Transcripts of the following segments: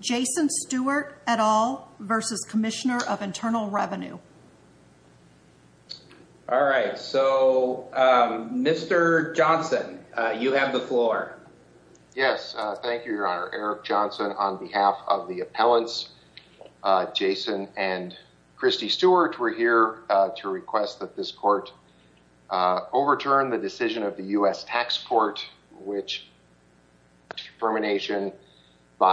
Jason Stewart et al. Mr. Johnson, you have the floor. Jason and Christy Stewart were here to request that this court request the determination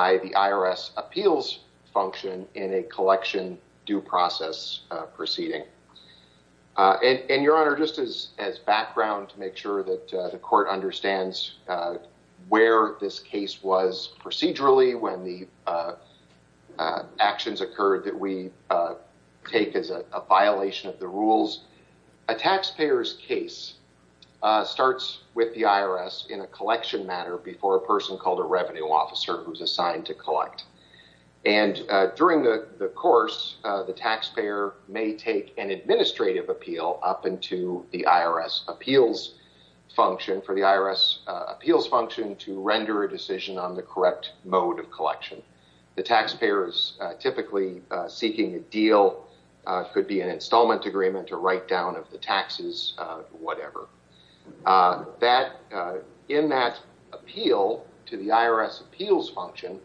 of the IRS appeals function in a collection due process proceeding. And your Honor, just as background to make sure that the court understands where this case was procedurally, when the actions occurred, that we take as a violation of the rules. A taxpayer's case starts with the IRS in a collection matter before a person called a revenue officer who is assigned to collect. And during the course, the taxpayer may take an administrative appeal up into the IRS appeals function for the IRS appeals function to render a decision on the correct mode of collection. The taxpayer is typically seeking a deal. It could be an installment agreement or write down of the taxes, whatever. In that appeal to the IRS appeals function,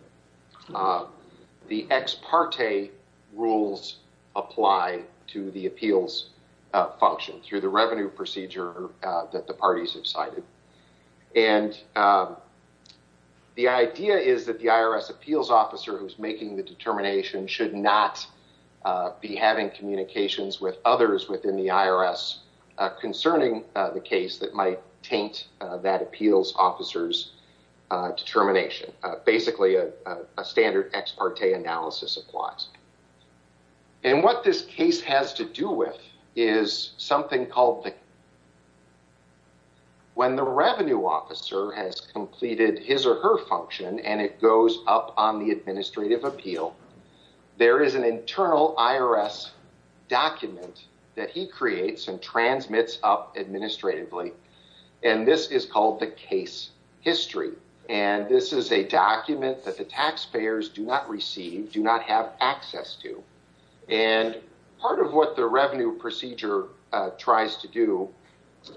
the ex parte rules apply to the appeals function through the revenue procedure that the parties have cited. And the idea is that the IRS appeals officer who's making the determination should not be having communications with others within the IRS concerning the case that might taint that appeals officer's determination. Basically, a standard ex parte analysis applies. And what this case has to do with is something called the... When the revenue officer has completed his or her function and it goes up on the administrative appeal, there is an internal IRS document that he creates and transmits up administratively. And this is called the case history. And this is a document that the taxpayers do not receive, do not have access to. And part of what the revenue procedure tries to do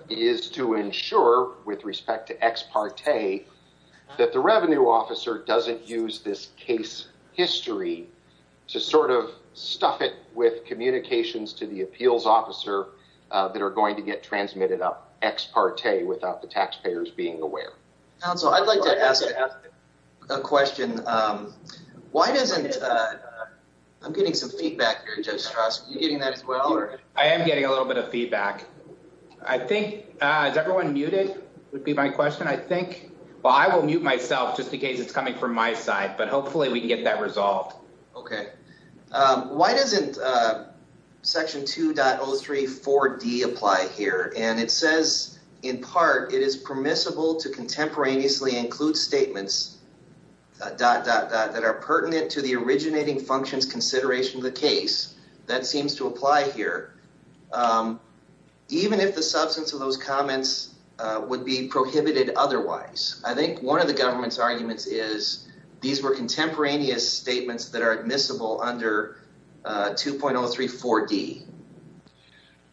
is to ensure, with respect to ex parte, that the revenue officer doesn't use this case history to sort of stuff it with communications to the appeals officer that are going to get transmitted up ex parte without the taxpayers being aware. Counsel, I'd like to ask a question. Why doesn't... I'm getting some feedback here, Judge Strauss. Are you getting that as well? I am getting a little bit of feedback. I think... Is everyone muted, would be my question. I think... Well, I will mute myself just in case it's coming from my side, but hopefully we can get that resolved. Okay. Why doesn't section 2.034D apply here? And it says, in part, it is permissible to contemporaneously include statements dot dot dot that are pertinent to the originating functions consideration of the case. That seems to apply here, even if the substance of those comments would be prohibited otherwise. I think one of the government's arguments is these were contemporaneous statements that are admissible under 2.034D.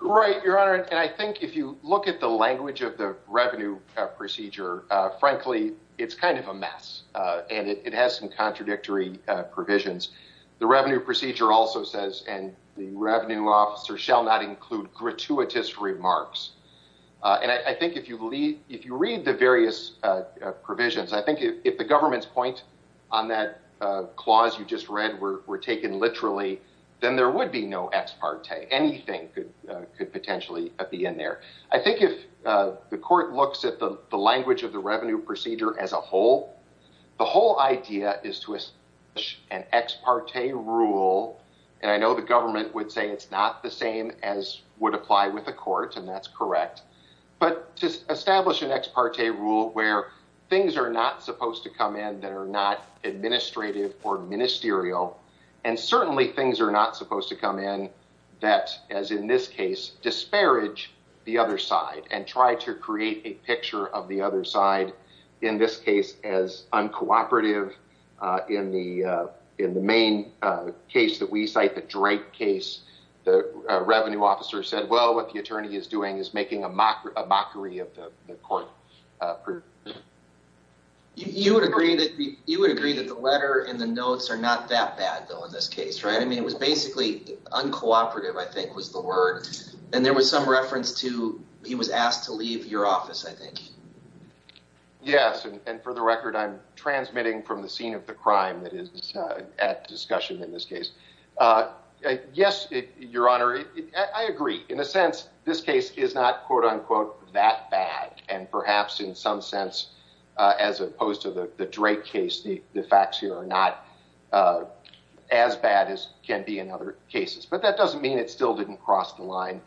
Right, Your Honor. And I think if you look at the language of the revenue procedure, frankly, it's kind of a mess and it has some contradictory provisions. The revenue procedure also says, and the revenue officer shall not include gratuitous remarks. And I think if you read the various provisions, I think if the government's point on that clause you just read were taken literally, then there would be no ex parte. Anything could potentially be in there. I think if the court looks at the language of the revenue procedure as a whole, the whole idea is to establish an ex parte rule. And I know the government would say it's not the same as would apply with the court, and that's correct. But to establish an ex parte rule where things are not supposed to come in that are not administrative or ministerial, and certainly things are not supposed to come in that, as in this case, disparage the other side and try to create a picture of the other side, in this case as uncooperative. In the main case that we cite, the Drake case, the revenue officer said, well, what the attorney is doing is making a mockery of the court. You would agree that the letter and the notes are not that bad, though, in this case, right? I mean, it was basically uncooperative, I think, was the word. And there was some reference to he was asked to leave your office, I think. Yes, and for the record, I'm transmitting from the scene of the crime that is at discussion in this case. Yes, Your Honor, I agree. In a sense, this case is not, quote unquote, that bad. And perhaps in some sense, as opposed to the Drake case, the facts here are not as bad as can be in other cases. But that doesn't mean it still didn't cross the line.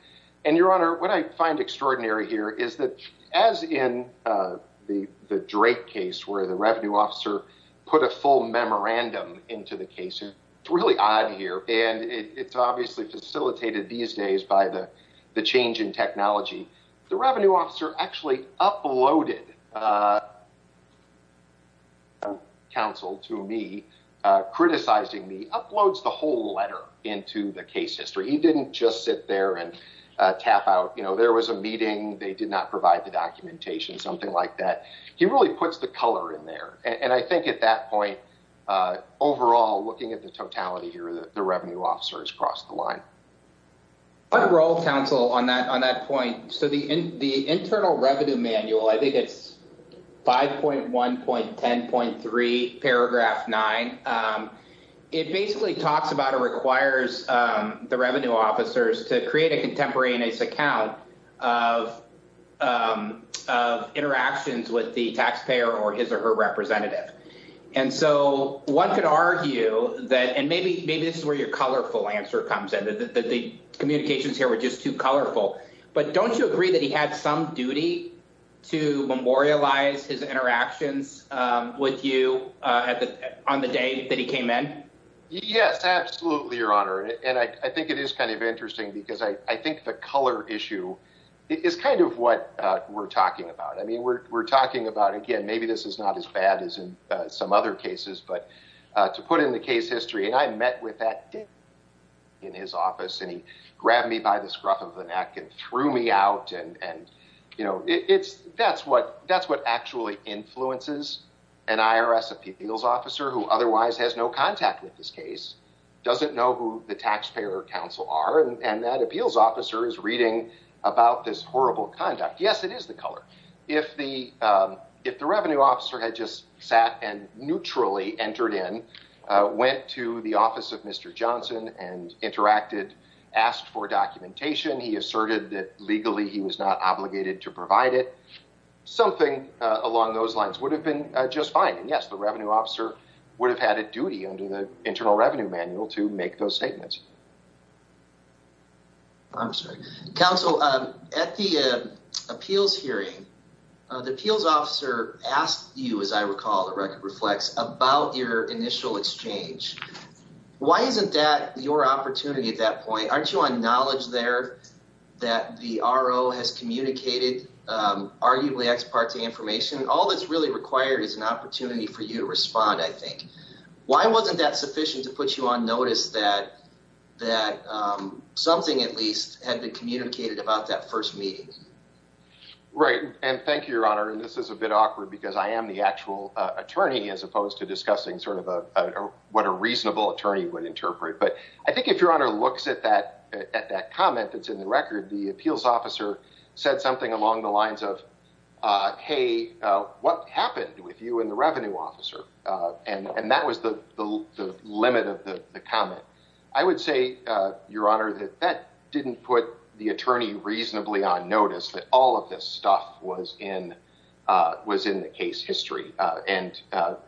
And, Your Honor, what I find extraordinary here is that, as in the Drake case, where the revenue officer put a full memorandum into the case, it's really odd here. And it's obviously facilitated these days by the change in technology. The revenue officer actually uploaded, counsel to me, criticizing me, uploads the whole letter into the case history. He didn't just sit there and tap out, you know, there was a meeting. They did not provide the documentation, something like that. He really puts the color in there. And I think at that point, overall, looking at the totality here, the revenue officer has crossed the line. What role, counsel, on that point? So the internal revenue manual, I think it's 5.1.10.3, paragraph 9. It basically talks about or requires the revenue officers to create a contemporaneous account of interactions with the taxpayer or his or her representative. And so one could argue that, and maybe this is where your colorful answer comes in, that the communications here were just too colorful. But don't you agree that he had some duty to memorialize his interactions with you on the day that he came in? Yes, absolutely, Your Honor. And I think it is kind of interesting because I think the color issue is kind of what we're talking about. I mean, we're talking about, again, maybe this is not as bad as in some other cases. But to put in the case history, and I met with that in his office, and he grabbed me by the scruff of the neck and threw me out. And, you know, that's what actually influences an IRS appeals officer who otherwise has no contact with this case, doesn't know who the taxpayer or counsel are. And that appeals officer is reading about this horrible conduct. Yes, it is the color. If the revenue officer had just sat and neutrally entered in, went to the office of Mr. Johnson and interacted, asked for documentation, he asserted that legally he was not obligated to provide it, something along those lines would have been just fine. And yes, the revenue officer would have had a duty under the Internal Revenue Manual to make those statements. I'm sorry. Counsel, at the appeals hearing, the appeals officer asked you, as I recall, the record reflects, about your initial exchange. Why isn't that your opportunity at that point? Aren't you on knowledge there that the RO has communicated arguably ex parte information? All that's really required is an opportunity for you to respond, I think. Why wasn't that sufficient to put you on notice that something at least had been communicated about that first meeting? Right. And thank you, Your Honor. And this is a bit awkward because I am the actual attorney as opposed to discussing sort of what a reasonable attorney would interpret. But I think if Your Honor looks at that comment that's in the record, the appeals officer said something along the lines of, hey, what happened with you and the revenue officer? And that was the limit of the comment. I would say, Your Honor, that that didn't put the attorney reasonably on notice that all of this stuff was in the case history. And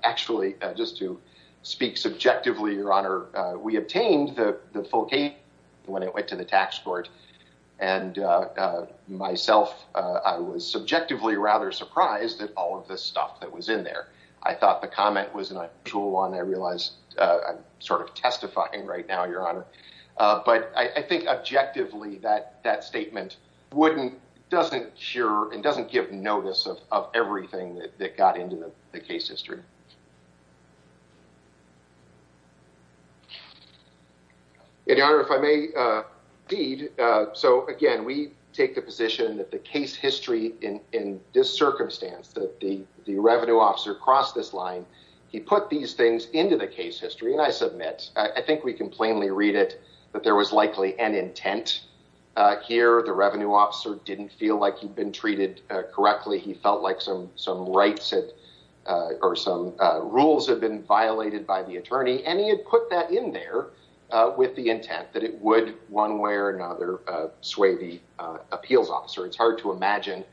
actually, just to speak subjectively, Your Honor, we obtained the full case when it went to the tax court. And myself, I was subjectively rather surprised at all of the stuff that was in there. I thought the comment was an unusual one. I realized I'm sort of testifying right now, Your Honor. But I think objectively that that statement wouldn't, doesn't cure and doesn't give notice of everything that got into the case history. Your Honor, if I may, indeed. So, again, we take the position that the case history in this circumstance, that the revenue officer crossed this line. He put these things into the case history. And I submit, I think we can plainly read it, that there was likely an intent here. The revenue officer didn't feel like he'd been treated correctly. He felt like some rights or some rules had been violated by the attorney. And he had put that in there with the intent that it would, one way or another, sway the appeals officer. It's hard to imagine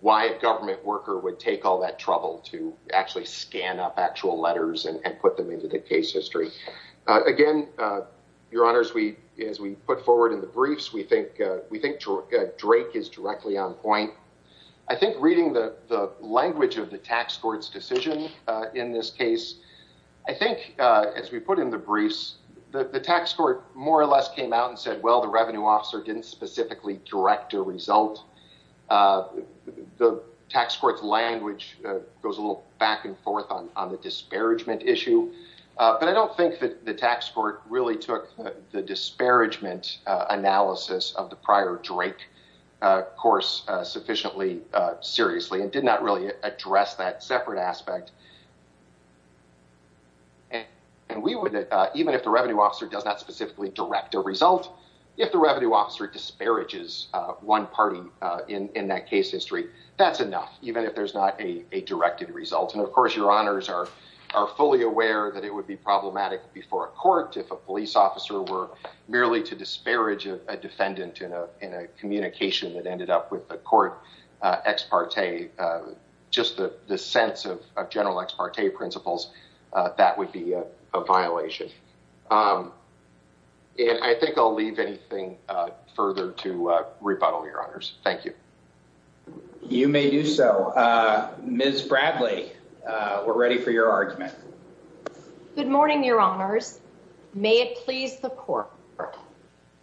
why a government worker would take all that trouble to actually scan up actual letters and put them into the case history. Again, Your Honor, as we put forward in the briefs, we think Drake is directly on point. I think reading the language of the tax court's decision in this case, I think as we put in the briefs, the tax court more or less came out and said, well, the revenue officer didn't specifically direct a result. The tax court's language goes a little back and forth on the disparagement issue. But I don't think that the tax court really took the disparagement analysis of the prior Drake course sufficiently seriously and did not really address that separate aspect. And we would, even if the revenue officer does not specifically direct a result, if the revenue officer disparages one party in that case history, that's enough, even if there's not a directed result. And of course, Your Honors are fully aware that it would be problematic before a court if a police officer were merely to disparage a defendant in a communication that ended up with the court ex parte. Just the sense of general ex parte principles, that would be a violation. And I think I'll leave anything further to rebuttal, Your Honors. Thank you. You may do so. Ms. Bradley, we're ready for your argument. Good morning, Your Honors. May it please the court.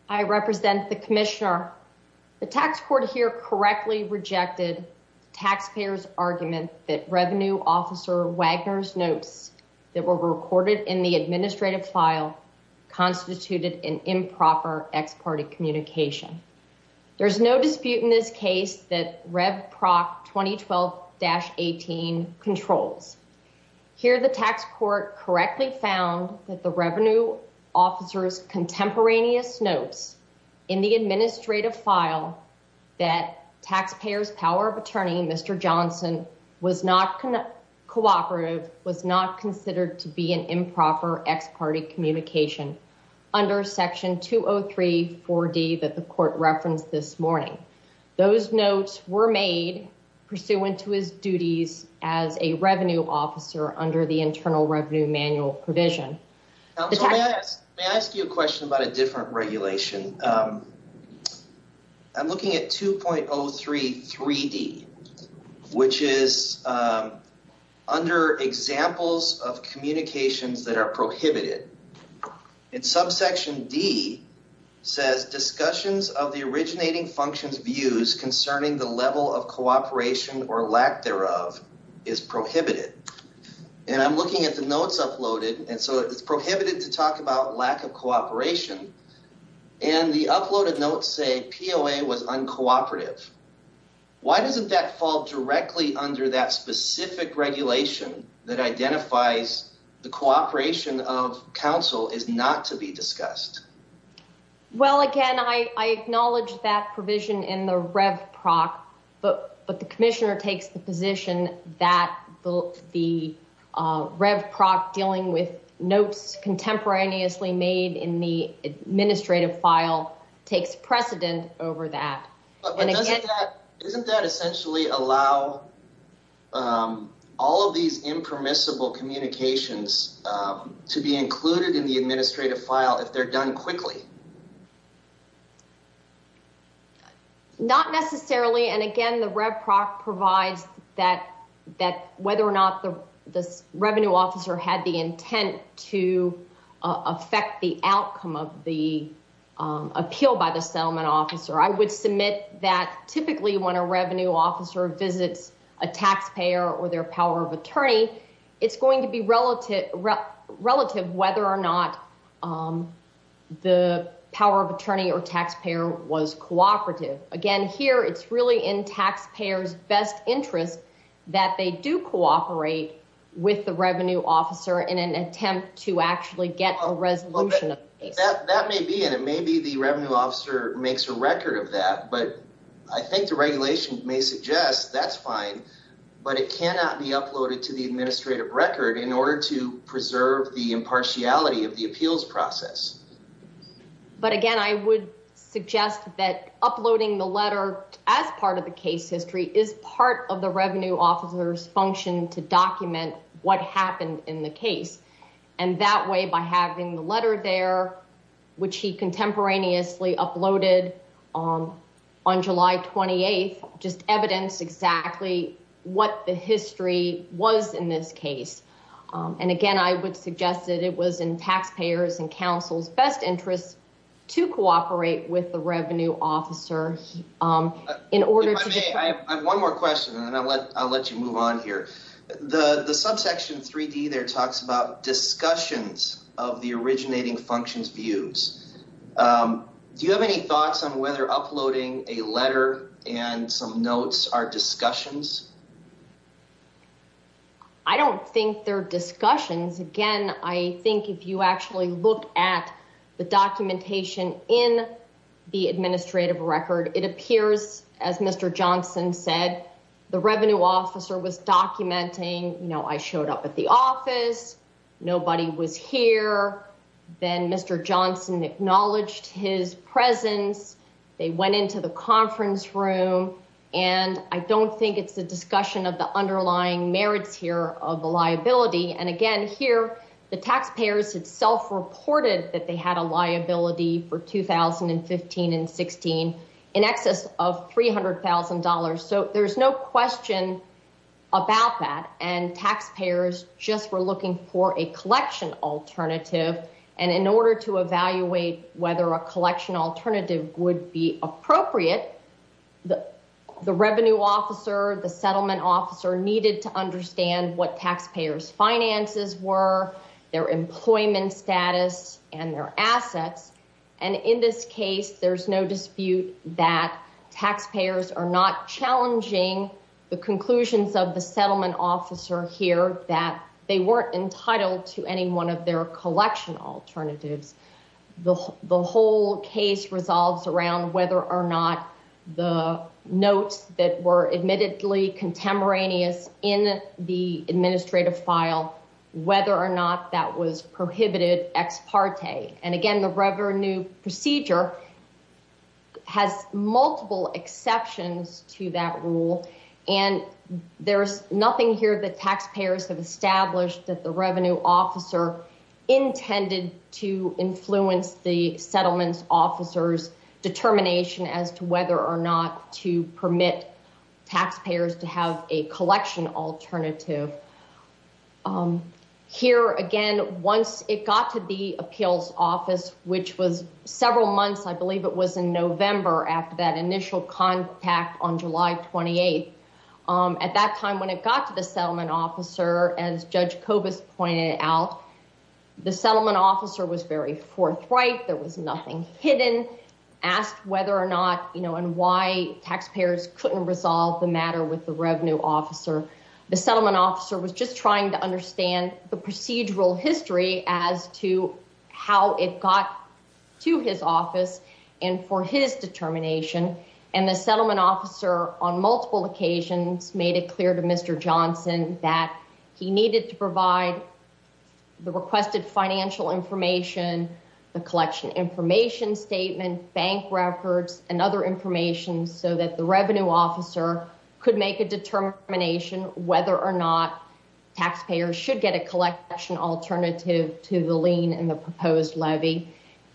I represent the commissioner. The tax court here correctly rejected taxpayers' argument that revenue officer Wagner's notes that were recorded in the administrative file constituted an improper ex parte communication. There's no dispute in this case that Rev Proc 2012-18 controls. Here, the tax court correctly found that the revenue officer's contemporaneous notes in the administrative file that taxpayers' power of attorney, Mr. Johnson, was not cooperative, was not considered to be an improper ex parte communication under Section 203-4D that the court referenced this morning. Those notes were made pursuant to his duties as a revenue officer under the Internal Revenue Manual provision. May I ask you a question about a different regulation? I'm looking at 2.03-3D, which is under examples of communications that are prohibited. In subsection D says discussions of the originating functions views concerning the level of cooperation or lack thereof is prohibited. And I'm looking at the notes uploaded, and so it's prohibited to talk about lack of cooperation. And the uploaded notes say POA was uncooperative. Why doesn't that fall directly under that specific regulation that identifies the cooperation of counsel is not to be discussed? Well, again, I acknowledge that provision in the Rev Proc, but the commissioner takes the position that the Rev Proc dealing with notes contemporaneously made in the administrative file takes precedent over that. Isn't that essentially allow all of these impermissible communications to be included in the administrative file if they're done quickly? Not necessarily. And again, the Rev Proc provides that whether or not the revenue officer had the intent to affect the outcome of the appeal by the settlement officer. I would submit that typically when a revenue officer visits a taxpayer or their power of attorney, it's going to be relative whether or not the power of attorney or taxpayer was cooperative. Again, here it's really in taxpayer's best interest that they do cooperate with the revenue officer in an attempt to actually get a resolution. That may be and it may be the revenue officer makes a record of that, but I think the regulation may suggest that's fine, but it cannot be uploaded to the administrative record in order to preserve the impartiality of the appeals process. But again, I would suggest that uploading the letter as part of the case history is part of the revenue officer's function to document what happened in the case. And that way, by having the letter there, which he contemporaneously uploaded on July 28th, just evidence exactly what the history was in this case. And again, I would suggest that it was in taxpayers and counsel's best interest to cooperate with the revenue officer in order to. I have one more question and I'll let you move on here. The subsection 3D there talks about discussions of the originating functions views. Do you have any thoughts on whether uploading a letter and some notes are discussions? I don't think they're discussions again. I think if you actually look at the documentation in the administrative record, it appears, as Mr Johnson said, the revenue officer was documenting, you know, I showed up at the office. Nobody was here. Then Mr Johnson acknowledged his presence. They went into the conference room, and I don't think it's a discussion of the underlying merits here of the liability. And again, here, the taxpayers itself reported that they had a liability for 2015 and 16 in excess of $300,000. So there's no question about that. And taxpayers just were looking for a collection alternative. And in order to evaluate whether a collection alternative would be appropriate, the revenue officer, the settlement officer needed to understand what taxpayers finances were, their employment status and their assets. And in this case, there's no dispute that taxpayers are not challenging the conclusions of the settlement officer here that they weren't entitled to any one of their collection alternatives. The whole case resolves around whether or not the notes that were admittedly contemporaneous in the administrative file, whether or not that was prohibited ex parte. And again, the revenue procedure has multiple exceptions to that rule. And there's nothing here that taxpayers have established that the revenue officer intended to influence the settlement officer's determination as to whether or not to permit taxpayers to have a collection alternative. Here again, once it got to the appeals office, which was several months, I believe it was in November after that initial contact on July 28th. At that time, when it got to the settlement officer, as Judge Kobus pointed out, the settlement officer was very forthright. There was nothing hidden, asked whether or not, you know, and why taxpayers couldn't resolve the matter with the revenue officer. The settlement officer was just trying to understand the procedural history as to how it got to his office and for his determination. And the settlement officer on multiple occasions made it clear to Mr. Johnson that he needed to provide the requested financial information, the collection information statement, bank records, and other information so that the revenue officer could make a determination whether or not taxpayers should get a collection alternative to the lien and the proposed levy.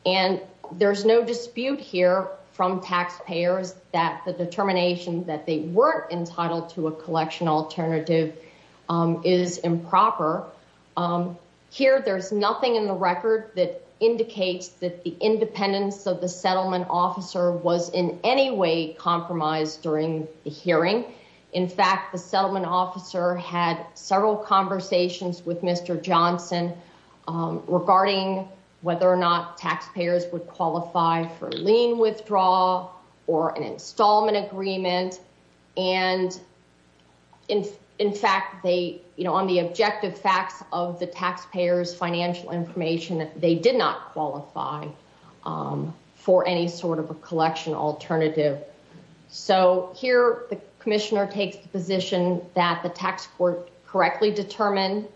And there's no dispute here from taxpayers that the determination that they weren't entitled to a collection alternative is improper. Here, there's nothing in the record that indicates that the independence of the settlement officer was in any way compromised during the hearing. In fact, the settlement officer had several conversations with Mr. Johnson regarding whether or not taxpayers would qualify for lien withdrawal or an installment agreement. And, in fact, they, you know, on the objective facts of the taxpayers' financial information, they did not qualify for any sort of a collection alternative. So here, the commissioner takes the position that the tax court correctly determined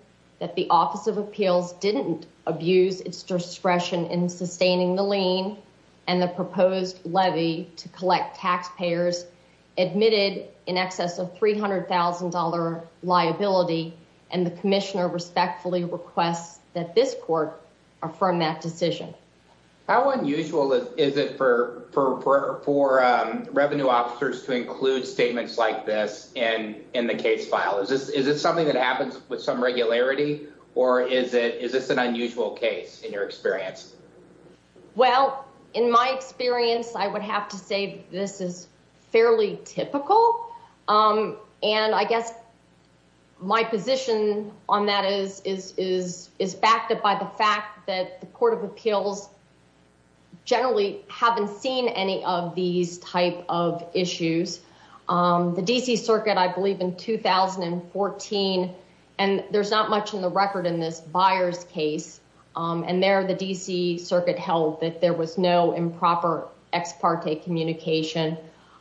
that the Office of Appeals didn't abuse its discretion in sustaining the lien and the proposed levy to collect taxpayers admitted in excess of $300,000 liability. And the commissioner respectfully requests that this court affirm that decision. How unusual is it for revenue officers to include statements like this in the case file? Is this something that happens with some regularity, or is this an unusual case in your experience? Well, in my experience, I would have to say this is fairly typical. And I guess my position on that is backed up by the fact that the Court of Appeals generally haven't seen any of these type of issues. The D.C. Circuit, I believe, in 2014, and there's not much in the record in this Byers case, and there the D.C. Circuit held that there was no improper ex parte communication.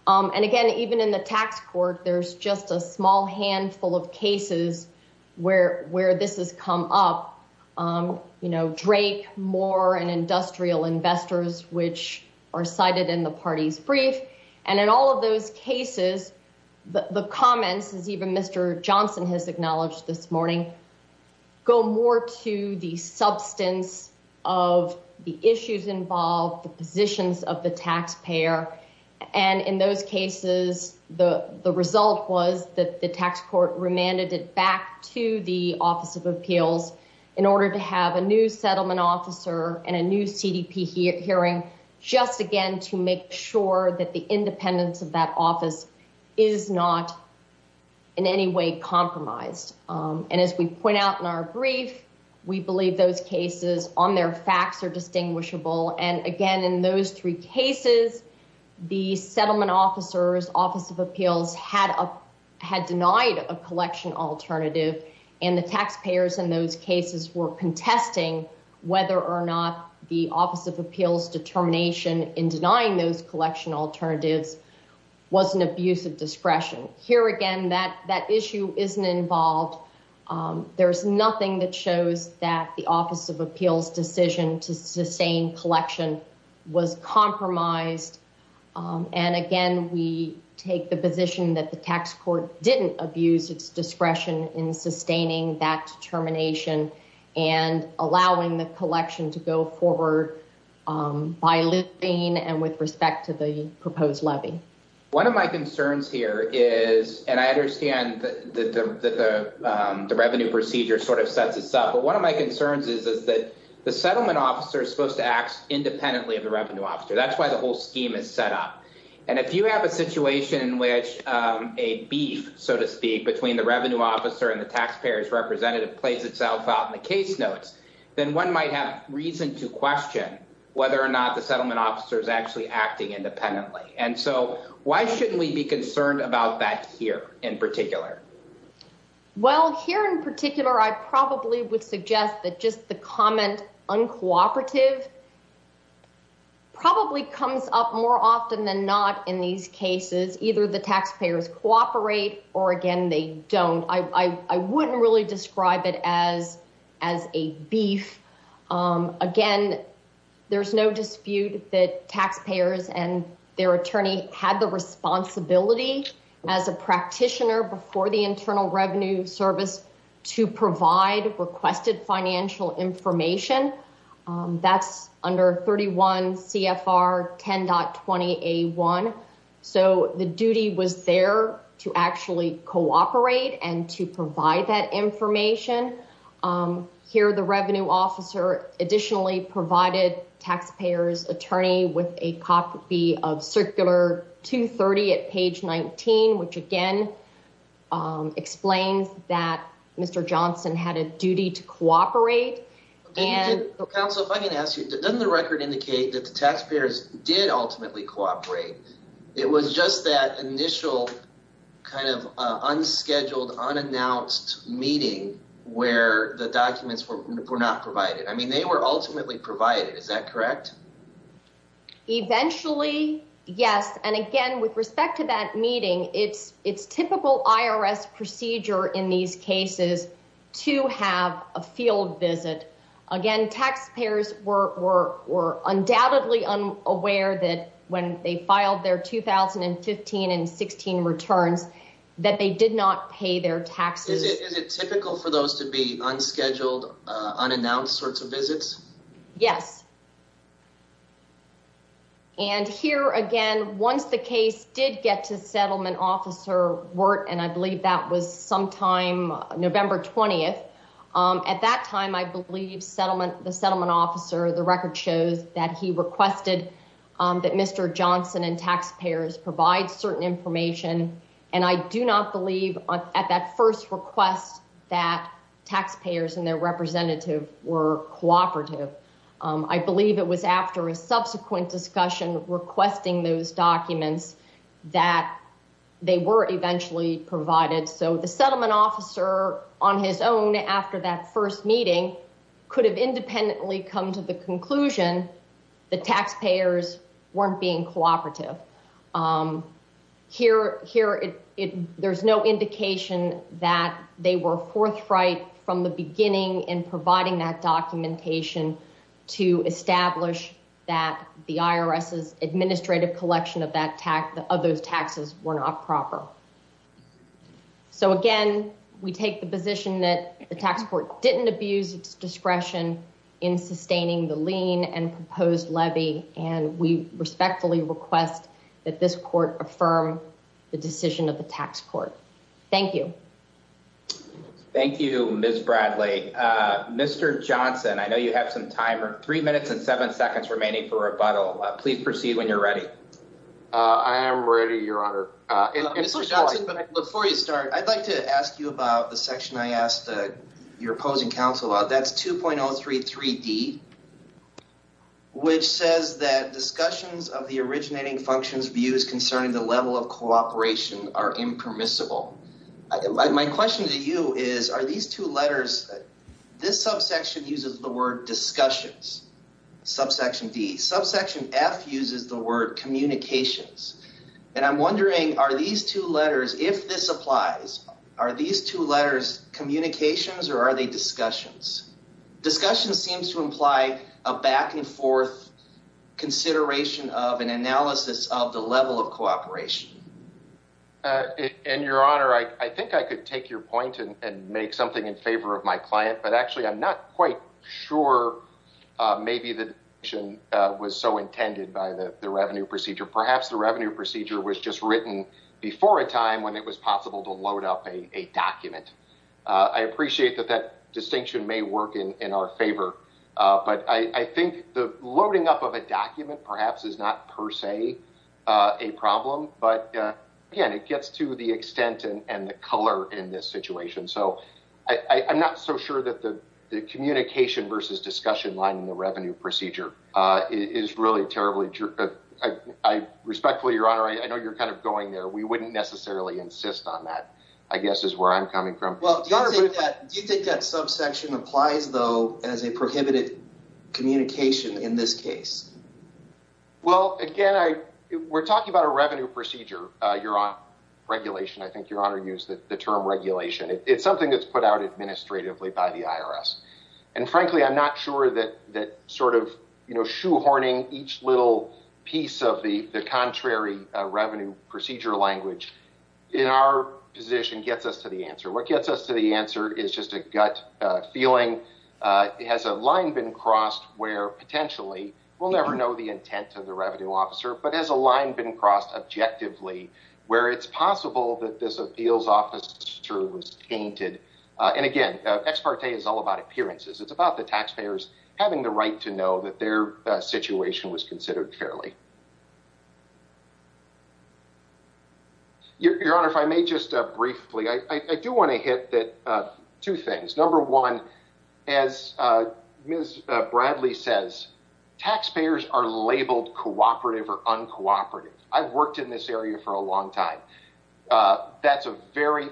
And, again, even in the tax court, there's just a small handful of cases where this has come up. You know, Drake, Moore, and industrial investors, which are cited in the party's brief. And in all of those cases, the comments, as even Mr. Johnson has acknowledged this morning, go more to the substance of the issues involved, the positions of the taxpayer. And in those cases, the result was that the tax court remanded it back to the Office of Appeals in order to have a new settlement officer and a new CDP hearing just, again, to make sure that the independence of that office is not in any way compromised. And as we point out in our brief, we believe those cases on their facts are distinguishable. And, again, in those three cases, the settlement officers, Office of Appeals, had denied a collection alternative. And the taxpayers in those cases were contesting whether or not the Office of Appeals' determination in denying those collection alternatives was an abuse of discretion. Here, again, that issue isn't involved. There's nothing that shows that the Office of Appeals' decision to sustain collection was compromised. And, again, we take the position that the tax court didn't abuse its discretion in sustaining that determination and allowing the collection to go forward by lifting and with respect to the proposed levy. One of my concerns here is—and I understand that the revenue procedure sort of sets this up—but one of my concerns is that the settlement officer is supposed to act independently of the revenue officer. That's why the whole scheme is set up. And if you have a situation in which a beef, so to speak, between the revenue officer and the taxpayer's representative plays itself out in the case notes, then one might have reason to question whether or not the settlement officer is actually acting independently. So why shouldn't we be concerned about that here in particular? Well, here in particular, I probably would suggest that just the comment uncooperative probably comes up more often than not in these cases. Either the taxpayers cooperate or, again, they don't. I wouldn't really describe it as a beef. Again, there's no dispute that taxpayers and their attorney had the responsibility as a practitioner before the Internal Revenue Service to provide requested financial information. That's under 31 CFR 10.20A1. So the duty was there to actually cooperate and to provide that information. Here, the revenue officer additionally provided taxpayers' attorney with a copy of Circular 230 at page 19, which again explains that Mr. Johnson had a duty to cooperate. Counsel, if I can ask you, doesn't the record indicate that the taxpayers did ultimately cooperate? It was just that initial kind of unscheduled, unannounced meeting where the documents were not provided. I mean, they were ultimately provided. Is that correct? Eventually, yes. And again, with respect to that meeting, it's typical IRS procedure in these cases to have a field visit. Again, taxpayers were undoubtedly unaware that when they filed their 2015 and 2016 returns that they did not pay their taxes. Is it typical for those to be unscheduled, unannounced sorts of visits? Yes. And here again, once the case did get to Settlement Officer Wirt, and I believe that was sometime November 20th. At that time, I believe the Settlement Officer, the record shows that he requested that Mr. Johnson and taxpayers provide certain information. And I do not believe at that first request that taxpayers and their representative were cooperative. I believe it was after a subsequent discussion requesting those documents that they were eventually provided. So the Settlement Officer on his own after that first meeting could have independently come to the conclusion that taxpayers weren't being cooperative. Here, there's no indication that they were forthright from the beginning in providing that documentation to establish that the IRS's administrative collection of those taxes were not proper. So again, we take the position that the tax court didn't abuse its discretion in sustaining the lien and proposed levy. And we respectfully request that this court affirm the decision of the tax court. Thank you. Thank you, Ms. Bradley. Mr. Johnson, I know you have some time, three minutes and seven seconds remaining for rebuttal. Please proceed when you're ready. I am ready, Your Honor. Before you start, I'd like to ask you about the section I asked your opposing counsel about. That's 2.033D, which says that discussions of the originating functions views concerning the level of cooperation are impermissible. My question to you is, are these two letters, this subsection uses the word discussions, subsection D. Subsection F uses the word communications. And I'm wondering, are these two letters, if this applies, are these two letters communications or are they discussions? Discussions seems to imply a back and forth consideration of and analysis of the level of cooperation. And Your Honor, I think I could take your point and make something in favor of my client, but actually I'm not quite sure maybe the decision was so intended by the revenue procedure. Perhaps the revenue procedure was just written before a time when it was possible to load up a document. I appreciate that that distinction may work in our favor, but I think the loading up of a document perhaps is not per se a problem. But again, it gets to the extent and the color in this situation. So I'm not so sure that the communication versus discussion line in the revenue procedure is really terribly. I respectfully, Your Honor, I know you're kind of going there. We wouldn't necessarily insist on that, I guess, is where I'm coming from. Well, do you think that subsection applies, though, as a prohibited communication in this case? Well, again, we're talking about a revenue procedure. I think Your Honor used the term regulation. It's something that's put out administratively by the IRS. And frankly, I'm not sure that sort of shoehorning each little piece of the contrary revenue procedure language in our position gets us to the answer. What gets us to the answer is just a gut feeling. Has a line been crossed where potentially we'll never know the intent of the revenue officer, but has a line been crossed objectively where it's possible that this appeals officer was tainted? And again, ex parte is all about appearances. It's about the taxpayers having the right to know that their situation was considered fairly. Your Honor, if I may just briefly, I do want to hit two things. Number one, as Ms. Bradley says, taxpayers are labeled cooperative or uncooperative. I've worked in this area for a long time. That's a very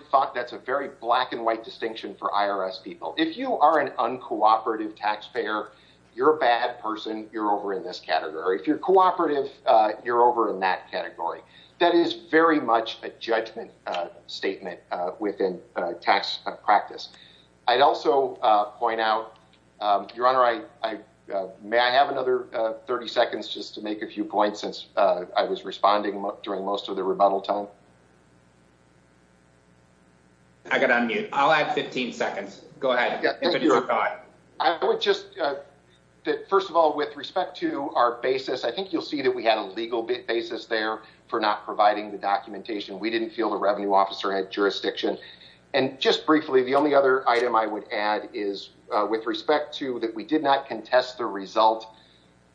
black and white distinction for IRS people. If you are an uncooperative taxpayer, you're a bad person. You're over in this category. If you're cooperative, you're over in that category. That is very much a judgment statement within tax practice. I'd also point out, Your Honor, may I have another 30 seconds just to make a few points since I was responding during most of the rebuttal time? I'm going to unmute. I'll add 15 seconds. Go ahead. I would just, first of all, with respect to our basis, I think you'll see that we had a legal basis there for not providing the documentation. We didn't feel the revenue officer had jurisdiction. And just briefly, the only other item I would add is with respect to that we did not contest the result.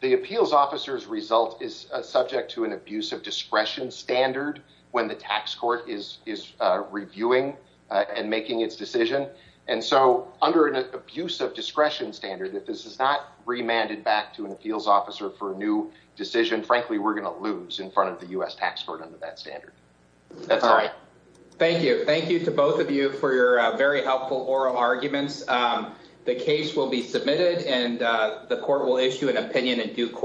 The appeals officer's result is subject to an abuse of discretion standard when the tax court is reviewing and making its decision. And so under an abuse of discretion standard, if this is not remanded back to an appeals officer for a new decision, frankly, we're going to lose in front of the U.S. tax court under that standard. That's all right. Thank you. Thank you to both of you for your very helpful oral arguments. The case will be submitted and the court will issue an opinion in due course.